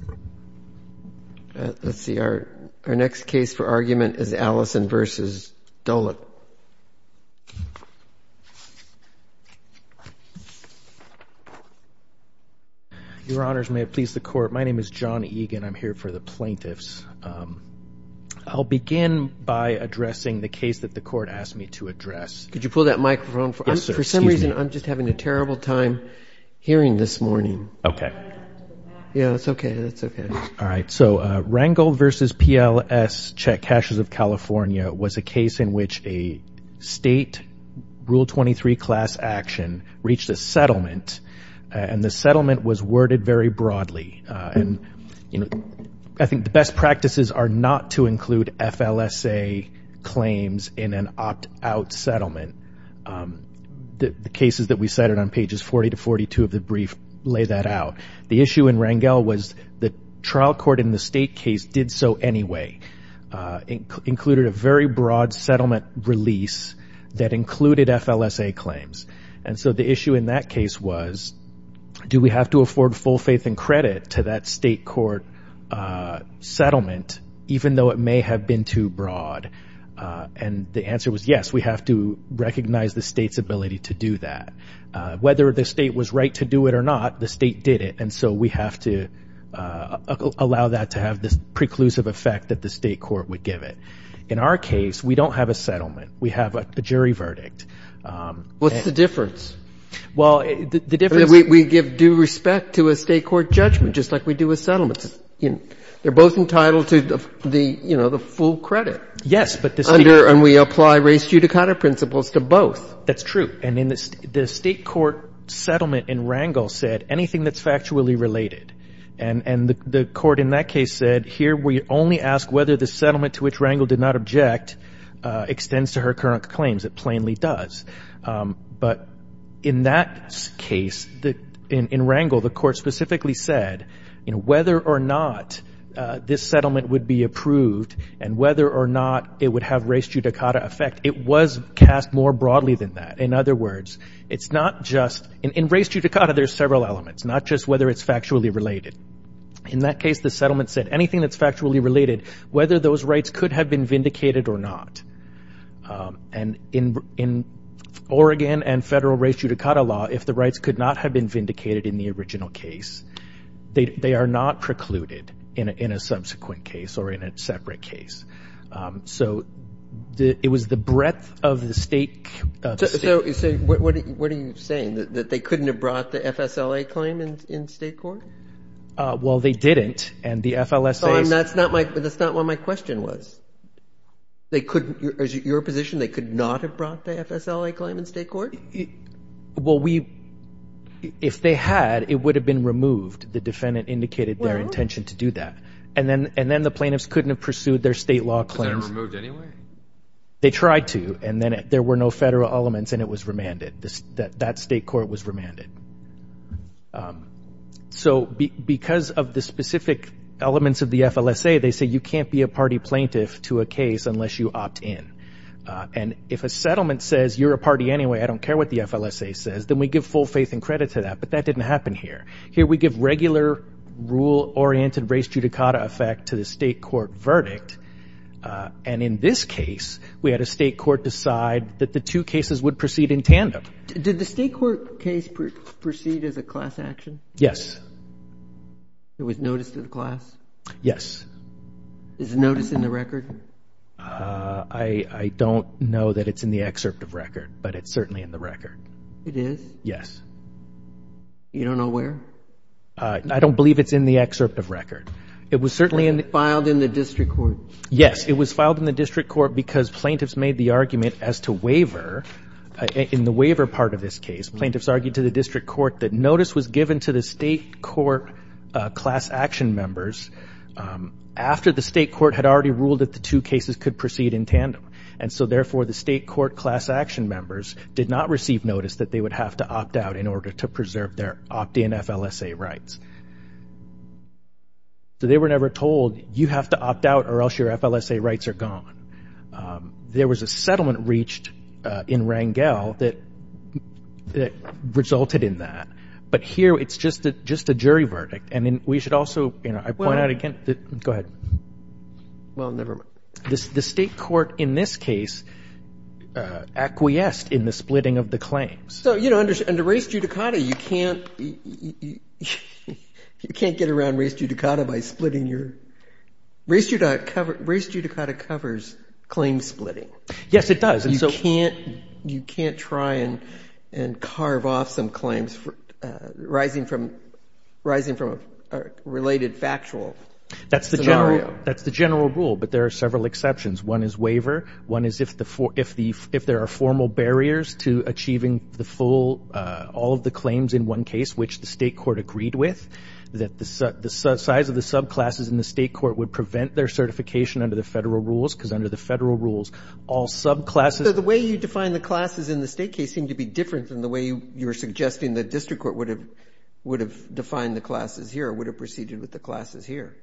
My name is John Egan. I'm here for the plaintiffs. I'll begin by addressing the case that the court asked me to address. Could you pull that microphone? For some reason I'm just having a terrible time hearing this morning. Rangel v. P.L.S. Check Caches of California was a case in which a state Rule 23 class action reached a settlement and the settlement was worded very broadly. I think the best practices are not to include FLSA claims in an opt-out settlement. The cases that we cited on pages 40 to 42 of the brief lay that out. The issue in Rangel was the trial court in the state case did so anyway. It included a very broad settlement release that included FLSA claims. The issue in that case was do we have to afford full faith and credit to that state court settlement even though it may have been too broad? The answer was yes. We have to recognize the state's ability to do that. Whether the state was right to do it or not, the state did it. We have to allow that to have this preclusive effect that the state court would give it. In our case, we don't have a settlement. We have a jury verdict. What's the difference? Well, the difference is we give due respect to a state court judgment just like we do with settlements. They're both entitled to the, you know, the full credit. Yes, but the state court. Under and we apply race judicata principles to both. That's true. And in the state court settlement in Rangel said anything that's factually related. And the court in that case said here we only ask whether the settlement to which Rangel did not object extends to her current claims. It plainly does. But in that case, in Rangel, the court specifically said, you know, whether or not this settlement would be approved and whether or not it would have race judicata effect. It was cast more broadly than that. In other words, it's not just in race judicata, there's several elements, not just whether it's factually related. In that case, the settlement said anything that's factually related, whether those rights could have been vindicated or not. And in in Oregon and federal race judicata law, if the rights could not have been vindicated in the original case, they are not precluded in a subsequent case or in a separate case. So it was the breadth of the state. So what are you saying, that they couldn't have brought the FSLA claim in state court? Well, they didn't. And the FLSA. That's not what my question was. Is it your position they could not have brought the FSLA claim in state court? Well, if they had, it would have been removed. The defendant indicated their intention to do that. And then the plaintiffs couldn't have pursued their state law claims. Was that removed anyway? They tried to, and then there were no federal elements and it was remanded. That state court was remanded. So because of the specific elements of the FLSA, they say you can't be a party plaintiff to a case unless you opt in. And if a settlement says you're a party anyway, I don't care what the FLSA says, then we give full faith and credit to that. But that didn't happen here. Here we give regular rule-oriented race judicata effect to the state court verdict. And in this case, we had a state court decide that the two cases would proceed in tandem. Did the state court case proceed as a class action? Yes. It was noticed to the class? Yes. Is the notice in the record? I don't know that it's in the excerpt of record, but it's certainly in the record. It is? Yes. You don't know where? I don't believe it's in the excerpt of record. It was certainly in the record. It was filed in the district court. Yes. It was filed in the district court because plaintiffs made the argument as to waiver. In the waiver part of this case, plaintiffs argued to the district court that notice was given to the state court class action members and so therefore the state court class action members did not receive notice that they would have to opt out in order to preserve their opt-in FLSA rights. So they were never told, you have to opt out or else your FLSA rights are gone. There was a settlement reached in Rangel that resulted in that. But here it's just a jury verdict. And we should also, you know, I point out again. Go ahead. Well, never mind. The state court in this case acquiesced in the splitting of the claims. So, you know, under race judicata you can't get around race judicata by splitting your race. Race judicata covers claim splitting. Yes, it does. You can't try and carve off some claims arising from a related factual scenario. That's the general rule, but there are several exceptions. One is waiver. One is if there are formal barriers to achieving the full, all of the claims in one case which the state court agreed with, that the size of the subclasses in the state court would prevent their certification under the federal rules because under the federal rules all subclasses. So the way you define the classes in the state case seemed to be different than the way you were suggesting the district court would have defined the classes here or would have proceeded with the classes here.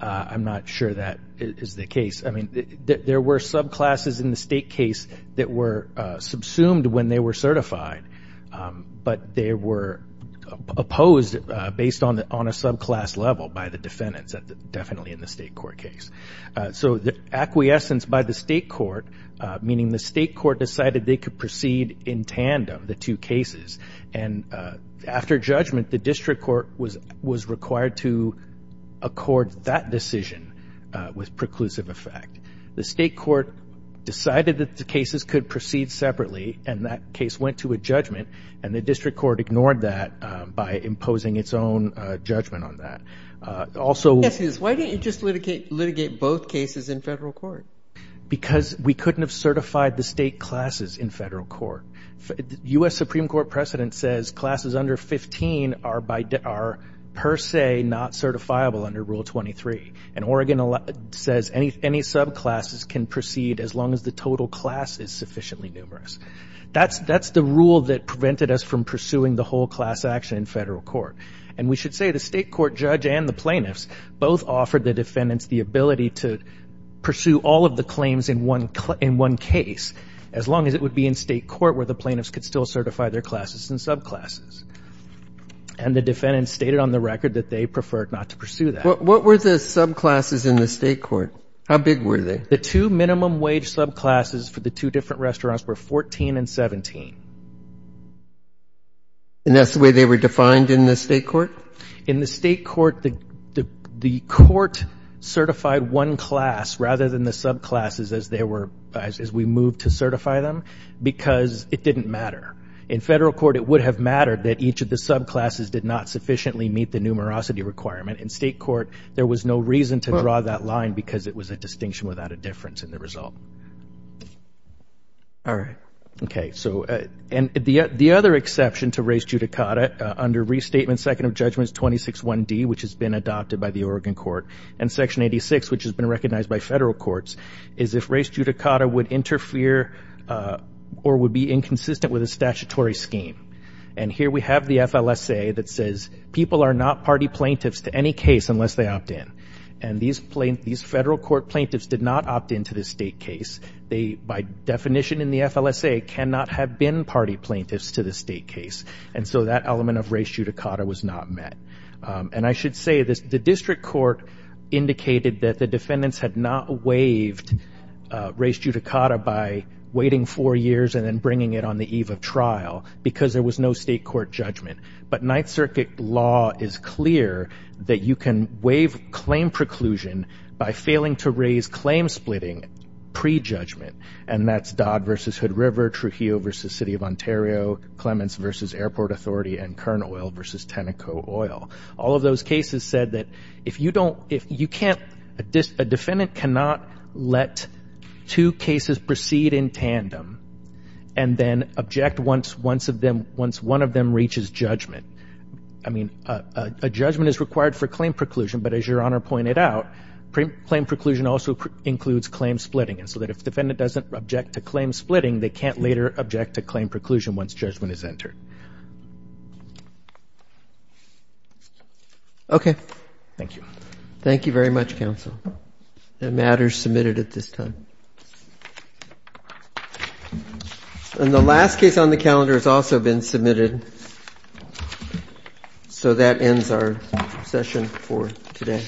I'm not sure that is the case. I mean, there were subclasses in the state case that were subsumed when they were certified, but they were opposed based on a subclass level by the defendants, definitely in the state court case. So the acquiescence by the state court, meaning the state court decided they could proceed in tandem, the two cases, and after judgment, the district court was required to accord that decision with preclusive effect. The state court decided that the cases could proceed separately, and that case went to a judgment, and the district court ignored that by imposing its own judgment on that. Also why didn't you just litigate both cases in federal court? Because we couldn't have certified the state classes in federal court. U.S. Supreme Court precedent says classes under 15 are per se not certifiable under Rule 23, and Oregon says any subclasses can proceed as long as the total class is sufficiently numerous. That's the rule that prevented us from pursuing the whole class action in federal court, and we should say the state court judge and the plaintiffs both offered the defendants the ability to pursue all of the claims in one case as long as it would be in state court where the plaintiffs could still certify their classes and subclasses. And the defendants stated on the record that they preferred not to pursue that. What were the subclasses in the state court? How big were they? The two minimum wage subclasses for the two different restaurants were 14 and 17. And that's the way they were defined in the state court? In the state court, the court certified one class rather than the subclasses as they were as we moved to certify them because it didn't matter. In federal court, it would have mattered that each of the subclasses did not sufficiently meet the numerosity requirement. In state court, there was no reason to draw that line because it was a distinction without a difference in the result. All right. Okay. So the other exception to res judicata under Restatement Second of Judgments 261D, which has been adopted by the Oregon court, and Section 86, which has been recognized by federal courts, is if res judicata would interfere or would be inconsistent with a statutory scheme. And here we have the FLSA that says people are not party plaintiffs to any case unless they opt in. And these federal court plaintiffs did not opt in to this state case. They, by definition in the FLSA, cannot have been party plaintiffs to the state case. And so that element of res judicata was not met. And I should say the district court indicated that the defendants had not waived res judicata by waiting four years and then bringing it on the eve of trial because there was no state court judgment. But Ninth Circuit law is clear that you can waive claim preclusion by failing to raise claim splitting pre-judgment, and that's Dodd v. Hood River, Trujillo v. City of Ontario, Clements v. Airport Authority, and Kern Oil v. Tenneco Oil. All of those cases said that if you don't, if you can't, a defendant cannot let two cases proceed in tandem and then object once one of them reaches judgment. I mean, a judgment is required for claim preclusion, but as Your Honor pointed out, claim preclusion also includes claim splitting. And so that if the defendant doesn't object to claim splitting, they can't later object to claim preclusion once judgment is entered. Okay. Thank you. Thank you very much, counsel. That matter is submitted at this time. And the last case on the calendar has also been submitted. So that ends our session for today.